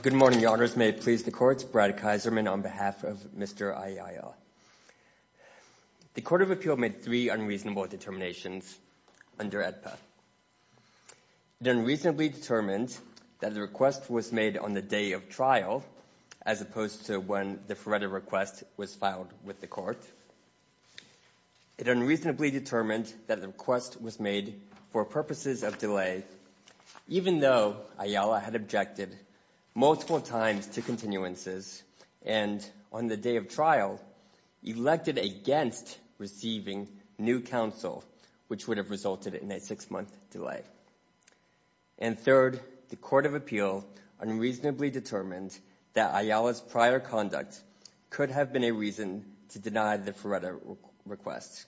Good morning, Your Honors. May it please the courts, Brad Kaiserman on behalf of Mr. IAIL. The Court of Appeal made three unreasonable determinations under AEDPA. It unreasonably determined that the request was made on the day of trial, as opposed to when the FRERTA request was filed with the Court. It unreasonably determined that the request was made for purposes of delay, even though IALA had objected multiple times to continuances and on the day of trial elected against receiving new counsel, which would have resulted in a six-month delay. And third, the Court of Appeal unreasonably determined that IALA's prior conduct could have been a reason to deny the FRERTA request,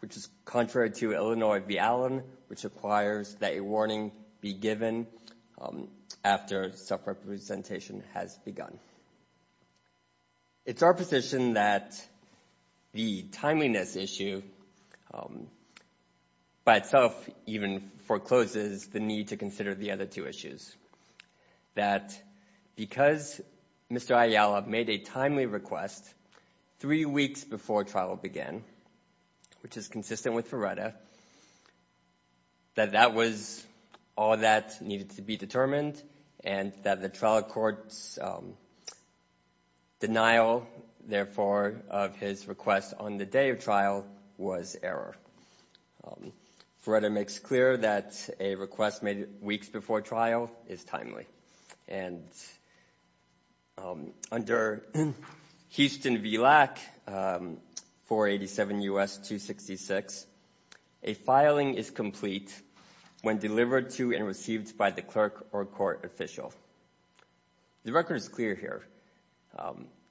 which is contrary to Illinois v. Allen, which requires that a warning be given after self-representation has begun. It's our position that the timeliness issue by itself even forecloses the need to consider the other two issues. That because Mr. IALA made a timely request three weeks before trial began, which is consistent with FRERTA, that that was all that needed to be determined and that the trial court's denial, therefore, of his request on the day of trial was error. FRERTA makes clear that a request made weeks before trial is timely. And under Houston v. Lack 487 U.S. 266, a filing is complete when delivered to and received by the clerk or court official. The record is clear here.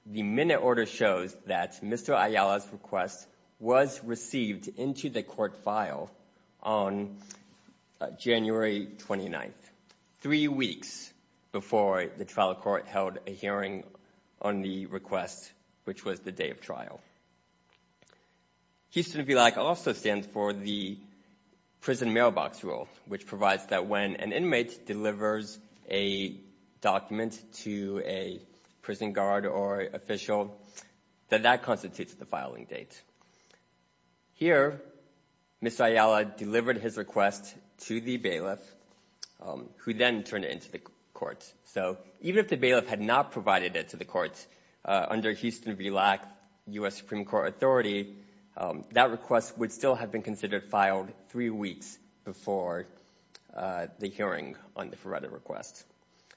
The minute order shows that Mr. IALA's request was received into the court file on January 29th, three weeks before the trial court held a hearing on the request, which was the day of trial. Houston v. Lack also stands for the prison mailbox rule, which provides that when an inmate delivers a document to a prison guard or official, that that constitutes the filing date. Here, Mr. IALA delivered his request to the bailiff, who then turned it into the court. So even if the bailiff had not provided it to the court under Houston v. Lack U.S. Supreme Court authority, that request would still have filed three weeks before the hearing on the FRERTA request.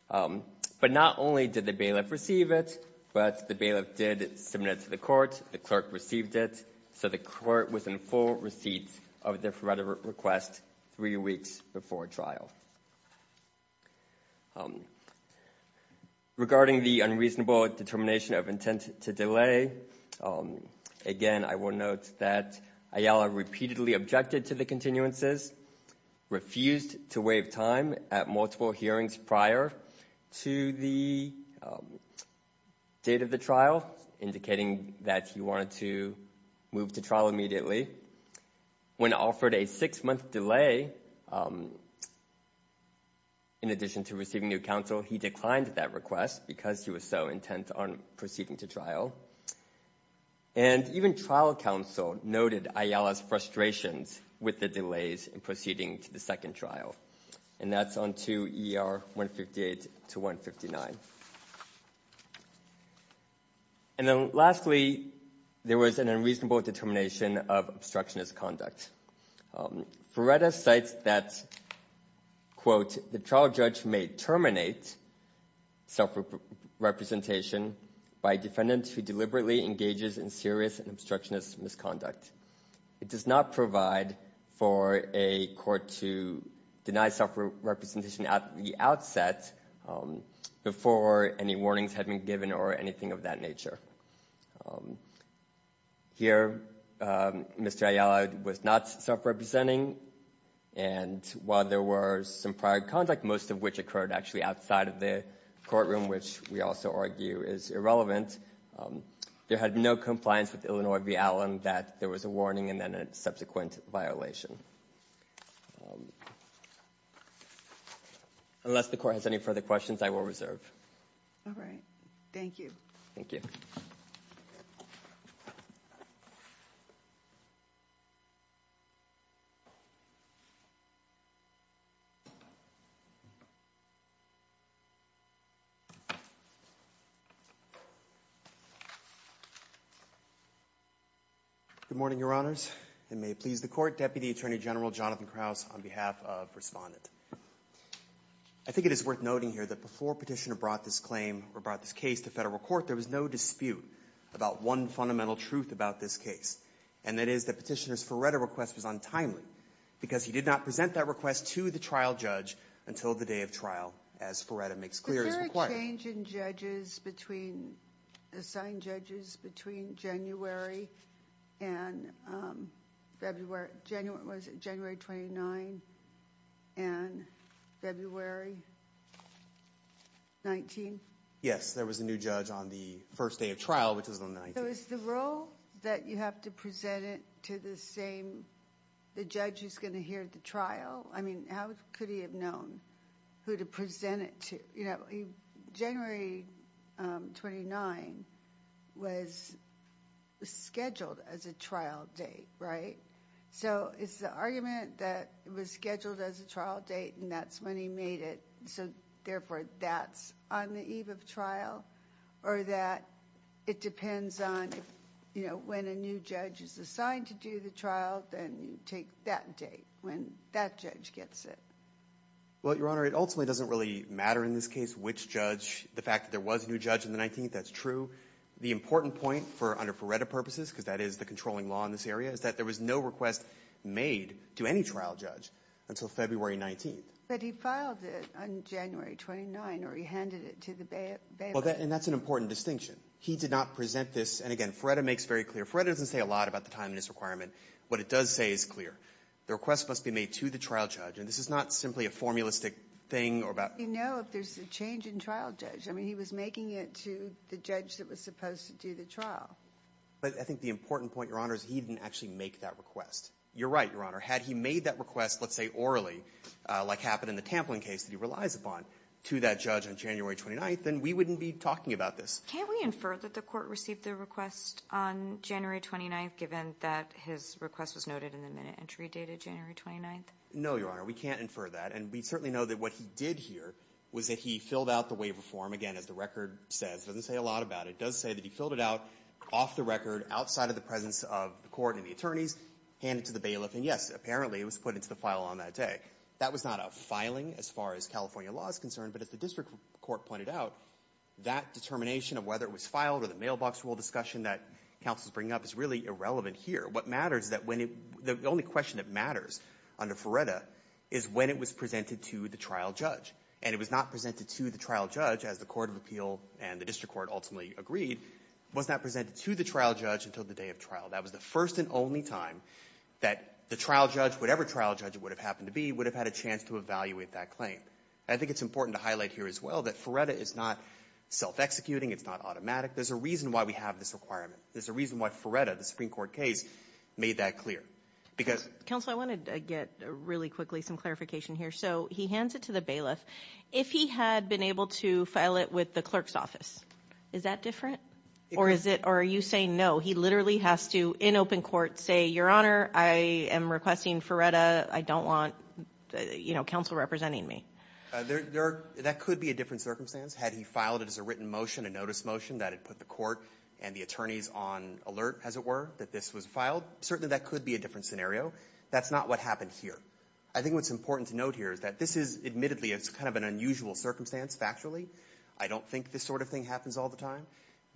But not only did the bailiff receive it, but the bailiff did submit it to the court, the clerk received it, so the court was in full receipt of the FRERTA request three weeks before trial. Regarding the unreasonable determination of intent to delay, again, I will note that IALA repeatedly objected to the continuances, refused to waive time at multiple hearings prior to the date of the trial, indicating that he wanted to move to trial immediately. When offered a six-month delay in addition to receiving new counsel, he declined that request because he was so intent on proceeding to trial. And even trial counsel noted IALA's frustrations with the delays in proceeding to the second trial, and that's on 2 ER 158 to 159. And then lastly, there was an unreasonable determination of obstructionist conduct. FRERTA cites that, quote, the trial judge may terminate self-representation by a defendant who deliberately engages in serious and obstructionist misconduct. It does not provide for a court to deny self-representation at the outset before any warnings had been given or anything of that nature. Here, Mr. IALA was not self-representing, and while there were some prior conduct, most of which occurred actually outside of the courtroom, which we also argue is irrelevant, there had no compliance with Illinois v. Allen that there was a warning and then a subsequent violation. Unless the court has any further questions, I will reserve. All right. Thank you. Thank you. Good morning, Your Honors. And may it please the Court, Deputy Attorney General Jonathan Krauss on behalf of Respondent. I think it is worth noting here that before Petitioner brought this claim or brought this case to federal court, there was no dispute about one fundamental truth about this case, and that is that Petitioner's FRERTA request was untimely because he did not present that request to the trial judge until the day of trial, as FRERTA makes clear is required. Was there a change in judges between, assigned judges between January and February, January 29 and February 19? Yes, there was a new judge on the first day of trial, which was on the 19th. So is the role that you have to present it to the same, the judge who's going to hear the trial? I mean, how could he have known who to present it to? You know, January 29 was scheduled as a trial date, right? So it's the argument that it was scheduled as a trial date and that's when he made it, so therefore that's on the eve of trial or that it depends on, you know, when a new judge is assigned to do the trial, then you take that date when that judge gets it. Well, Your Honor, it ultimately doesn't really matter in this case which judge, the fact that there was a new judge on the 19th, that's true. The important point for, under FRERTA purposes, because that is the controlling law in this area, is that there was no request made to any trial judge until February 19th. But he filed it on January 29 or he handed it to the bailiff. And that's an important distinction. He did not present this, and again, FRERTA makes very clear, FRERTA doesn't say a lot about the time in this requirement. What it does say is clear. The request must be made to the trial judge and this is not simply a formulistic thing about... We know if there's a change in trial judge. I mean, he was making it to the judge that was supposed to do the trial. But I think the important point, Your Honor, is he didn't actually make that request. You're right, Your Honor. Had he made that request, let's say, orally, like happened in the Tamplin case that he relies upon, to that judge on January 29th, then we wouldn't be talking about this. Can we infer that the Court received the request on January 29th given that his request was noted in the minute entry dated January 29th? No, Your Honor. We can't infer that. And we certainly know that what he did here was that he filled out the waiver form, again, as the record says. It doesn't say a lot about it. It does say that he filled it out off the record, outside of the presence of the Court and the attorneys, handed to the bailiff. And yes, apparently, it was put into the file on that day. That was not a filing as far as California law is concerned. But as the district court pointed out, that determination of whether it was filed or the mailbox rule discussion that counsel is bringing up is really irrelevant here. What matters is that when it — the only question that matters under Feretta is when it was presented to the trial judge. And it was not presented to the trial judge, as the Court of Appeal and the district court ultimately agreed, was not presented to the trial judge until the day of trial. That was the first and only time that the trial judge, whatever trial judge it would have happened to be, would have had a chance to evaluate that claim. I think it's important to highlight here as well that Feretta is not self-executing. It's not automatic. There's a reason why we have this requirement. There's a reason why Feretta, the Supreme Court case, made that clear. Because — Counsel, I want to get really quickly some clarification here. So he hands it to the with the clerk's office. Is that different? Or is it — or are you saying, no, he literally has to, in open court, say, Your Honor, I am requesting Feretta. I don't want, you know, counsel representing me. That could be a different circumstance had he filed it as a written motion, a notice motion, that had put the court and the attorneys on alert, as it were, that this was filed. Certainly, that could be a different scenario. That's not what happened here. I think what's important to note here is that this is — admittedly, it's kind of an unusual circumstance, factually. I don't think this sort of thing happens all the time.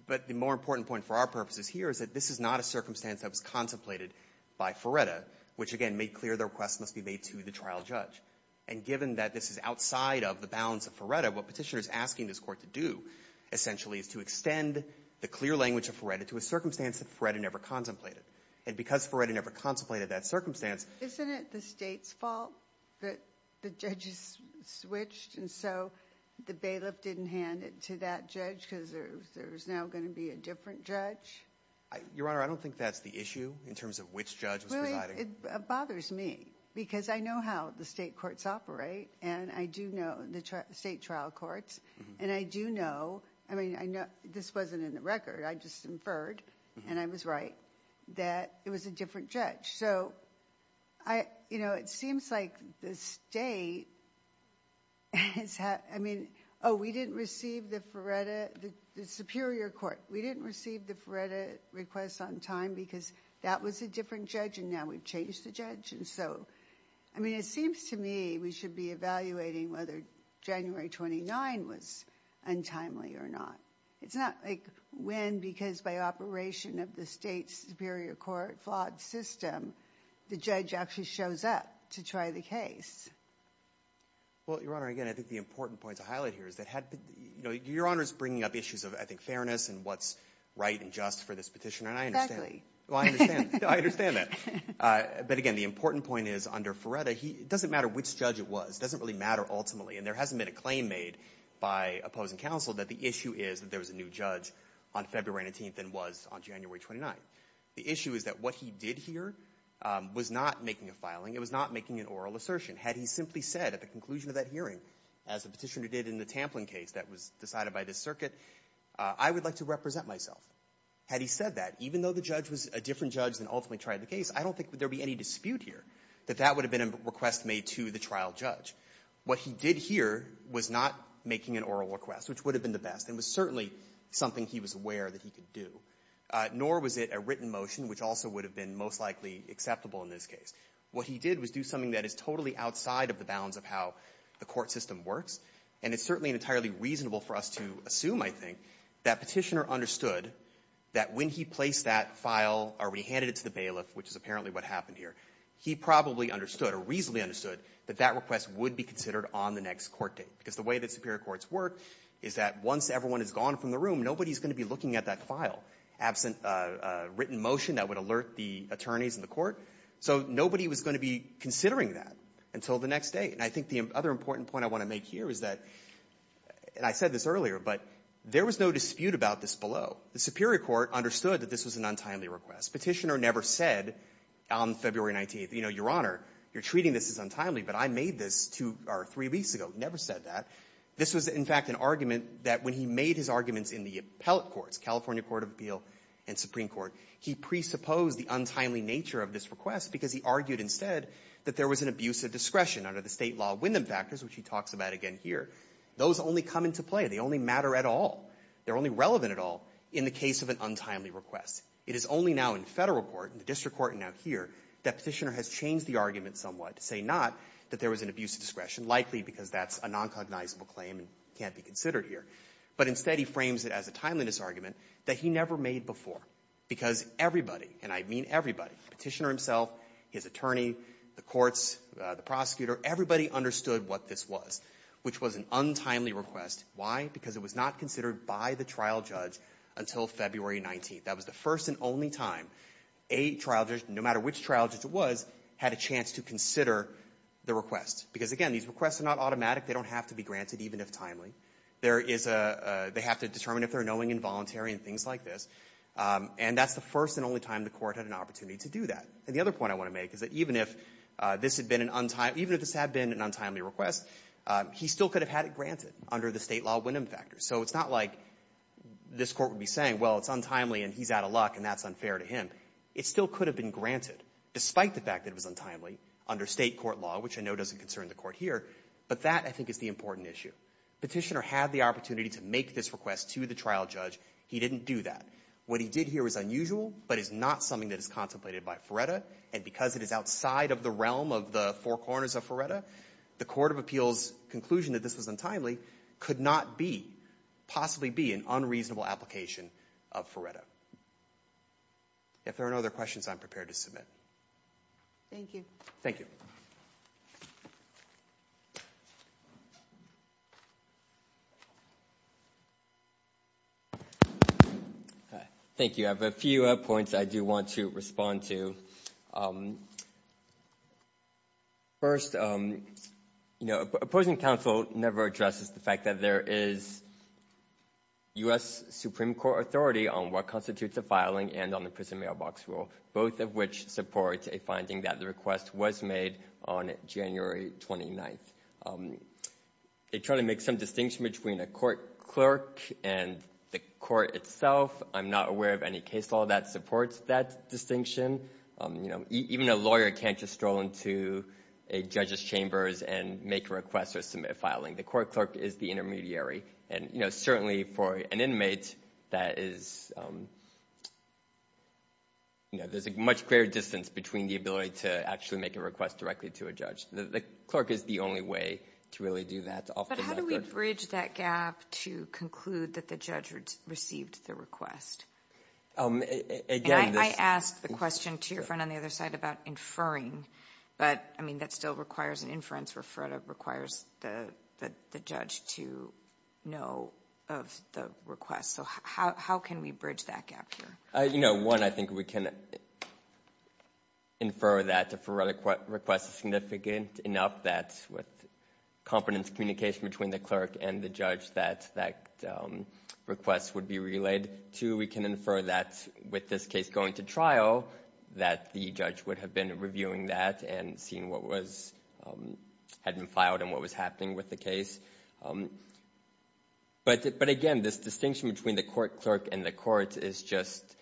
But the more important point for our purposes here is that this is not a circumstance that was contemplated by Feretta, which, again, made clear the request must be made to the trial judge. And given that this is outside of the bounds of Feretta, what Petitioner is asking this Court to do, essentially, is to extend the clear language of Feretta to a circumstance that Feretta never contemplated. And because Feretta never contemplated that circumstance — Isn't it the state's fault that the judges switched, and so the bailiff didn't hand it to that judge because there's now going to be a different judge? Your Honor, I don't think that's the issue, in terms of which judge was presiding. Really, it bothers me, because I know how the state courts operate, and I do know — the state trial courts. And I do know — I mean, this wasn't in the record. I just inferred, and I was right, that it was a different judge. So, you know, it seems like the state has — I mean — oh, we didn't receive the Feretta — the Superior Court. We didn't receive the Feretta request on time because that was a different judge, and now we've changed the judge. And so, I mean, it seems to me we should be evaluating whether January 29 was untimely or not. It's not, like, when, because by operation of the state's Superior Court flawed system, the judge actually shows up to try the case. Well, Your Honor, again, I think the important point to highlight here is that — you know, Your Honor's bringing up issues of, I think, fairness and what's right and just for this petition, and I understand — Well, I understand. I understand that. But again, the important point is, under Feretta, he — it doesn't matter which judge it was. It doesn't really matter, ultimately. And there was a new judge on February 19th and was on January 29th. The issue is that what he did here was not making a filing. It was not making an oral assertion. Had he simply said at the conclusion of that hearing, as the petitioner did in the Tamplin case that was decided by this circuit, I would like to represent myself. Had he said that, even though the judge was a different judge than ultimately tried the case, I don't think there would be any dispute here that that would have been a request made to the trial judge. What he did here was not making an oral request, which would have been the best and was certainly something he was aware that he could do, nor was it a written motion, which also would have been most likely acceptable in this case. What he did was do something that is totally outside of the bounds of how the court system works. And it's certainly entirely reasonable for us to assume, I think, that petitioner understood that when he placed that file or when he handed it to the bailiff, which is apparently what happened here, he probably understood or reasonably understood that that request would be considered on the next court date, because the way that superior courts work is that once everyone is gone from the room, nobody is going to be looking at that file, absent a written motion that would alert the attorneys in the court. So nobody was going to be considering that until the next day. And I think the other important point I want to make here is that, and I said this earlier, but there was no dispute about this below. The superior court understood that this was an untimely request. Petitioner never said on February 19th, you know, Your Honor, you're treating this as untimely, but I made this two or three weeks ago. He never said that. This was, in fact, an argument that when he made his arguments in the appellate courts, California Court of Appeal and Supreme Court, he presupposed the untimely nature of this request, because he argued instead that there was an abuse of discretion under the State law of window factors, which he talks about again here. Those only come into play. They only matter at all. They're only relevant at all in the case of an untimely request. It is only now in Federal court, in the district court and now here, that petitioner has changed the argument somewhat to say not that there was an abuse of discretion, likely because that's a non-cognizable claim and can't be considered here, but instead he frames it as a timeliness argument that he never made before, because everybody, and I mean everybody, the petitioner himself, his attorney, the courts, the prosecutor, everybody understood what this was, which was an untimely request. Why? Because it was not considered by the trial judge until February 19th. That was the first and only time a trial judge, no matter which trial judge it was, had a chance to consider the request. Because, again, these requests are not automatic. They don't have to be granted, even if timely. There is a they have to determine if they're knowing involuntary and things like this. And that's the first and only time the Court had an opportunity to do that. And the other point I want to make is that even if this had been an untimely request, he still could have had it granted under the State law of window factors. So it's not like this Court would be saying, well, it's untimely and he's out of luck and that's unfair to him. It still could have been granted, despite the fact that it was untimely under State court law, which I know doesn't concern the Court here. But that, I think, is the important issue. Petitioner had the opportunity to make this request to the trial judge. He didn't do that. What he did here was unusual, but it's not something that is contemplated by Ferretta. And because it is outside of the realm of the four corners of Ferretta, the Court of Appeals' conclusion that this was untimely could not be, possibly be, an unreasonable application of Ferretta. If there are no other questions, I'm prepared to submit. Thank you. Thank you. Thank you. I have a few points I do want to respond to. First, you know, opposing counsel never addresses the fact that there is U.S. Supreme Court authority on what constitutes a filing and on the prison mailbox rule, both of which support a finding that the request was made on January 29th. They try to make some distinction between a court clerk and the court itself. I'm not aware of any case law that supports that distinction. You know, even a lawyer can't just stroll into a judge's chambers and make a request or submit a filing. The court clerk is the intermediary. And, you know, certainly for an inmate, that is, you know, there's a much greater distance between the ability to actually make a request directly to a judge. The clerk is the only way to really do that. But how do we bridge that gap to conclude that the judge received the request? And I asked the question to your friend on the other side about inferring, but, I mean, that still requires an inference where FRERTA requires the judge to know of the request. So how can we bridge that gap here? You know, one, I think we can infer that the FRERTA request is significant enough that with competent communication between the clerk and the judge that that request would be relayed. Two, we can infer that with this case going to trial that the judge would have been reviewing that and seeing what was, had been filed and what was happening with the case. But, again, this distinction between the court clerk and the court is just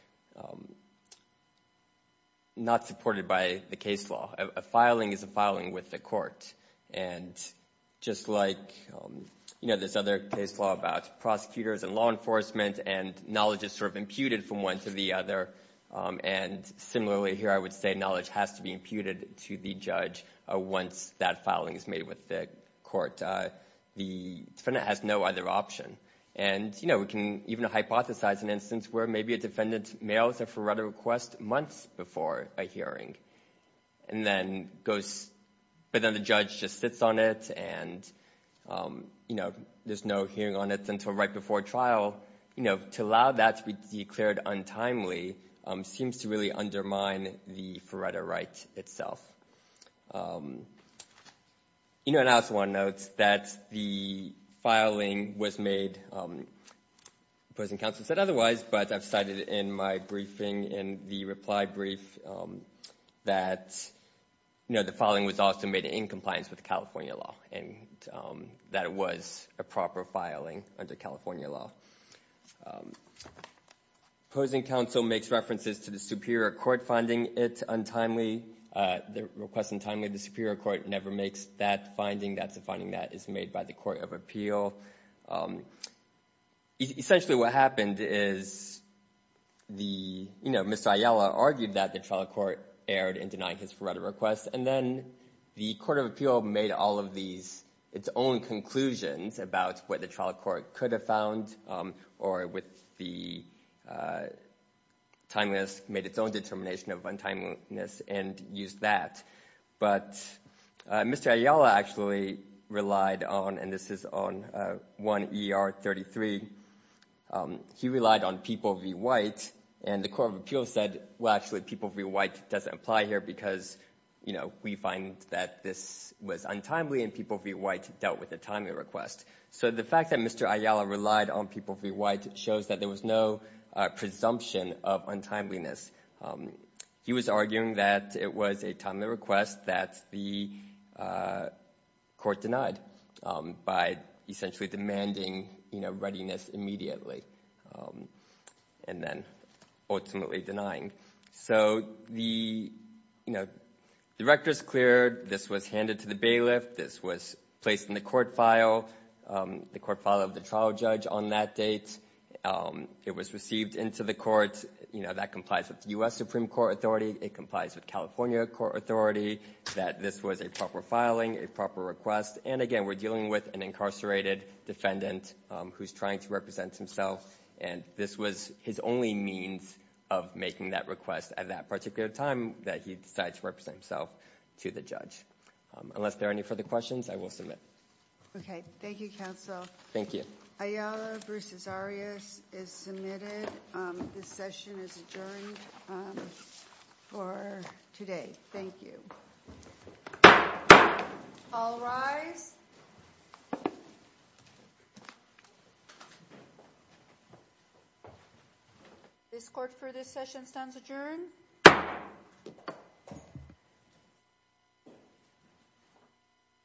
not supported by the case law. A filing is a filing with the court. And just like, you know, this other case law about prosecutors and law enforcement and knowledge is sort of imputed from one to the other. And similarly here I would say knowledge has to be imputed to the judge once that filing is made with the court. The defendant has no other option. And, you know, we can even hypothesize an instance where maybe a defendant mails a FRERTA request months before a hearing. And then goes, but then the judge just sits on it and, you know, there's no hearing on it until right before trial. You know, to allow that to be declared untimely seems to really undermine the FRERTA right itself. You know, and I also want to note that the filing was made, opposing counsel said otherwise, but I've cited in my briefing in the reply brief that, you know, the filing was also made in compliance with the California law. And that it was a proper filing under California law. Opposing counsel makes references to the superior court finding it untimely, the request untimely. The superior court never makes that finding. That's a finding that is made by the court of appeal. Essentially what happened is the, you know, Mr. Ayala argued that the trial court erred in denying his FRERTA request. And then the court of appeal made all of these, its own conclusions about what the trial court could have found or with the timeliness, made its own determination of untimeliness and used that. But Mr. Ayala actually relied on, and this is on 1 ER 33, he relied on People v. White. And the court of appeal said, well, actually People v. White doesn't apply here because, you know, we find that this was untimely and People v. White dealt with a timely request. So the fact that Mr. Ayala relied on People v. White shows that there was no presumption of untimeliness. He was arguing that it was a timely request that the court denied by essentially demanding, you know, readiness immediately. And then ultimately denying. So the, you know, the record's cleared. This was handed to the bailiff. This was placed in the court file, the court file of the trial judge on that date. It was received into the court, you know, that complies with the U.S. Supreme Court authority. It complies with California court authority that this was a proper filing, a proper request. And again, we're dealing with an incarcerated defendant who's trying to represent himself. And this was his only means of making that request at that particular time that he decided to represent himself to the judge. Unless there are any further questions, I will submit. Okay, thank you, counsel. Thank you. Ayala Bruce-Cesarios is submitted. This session is adjourned for today. Thank you. All rise. This court for this session stands adjourned.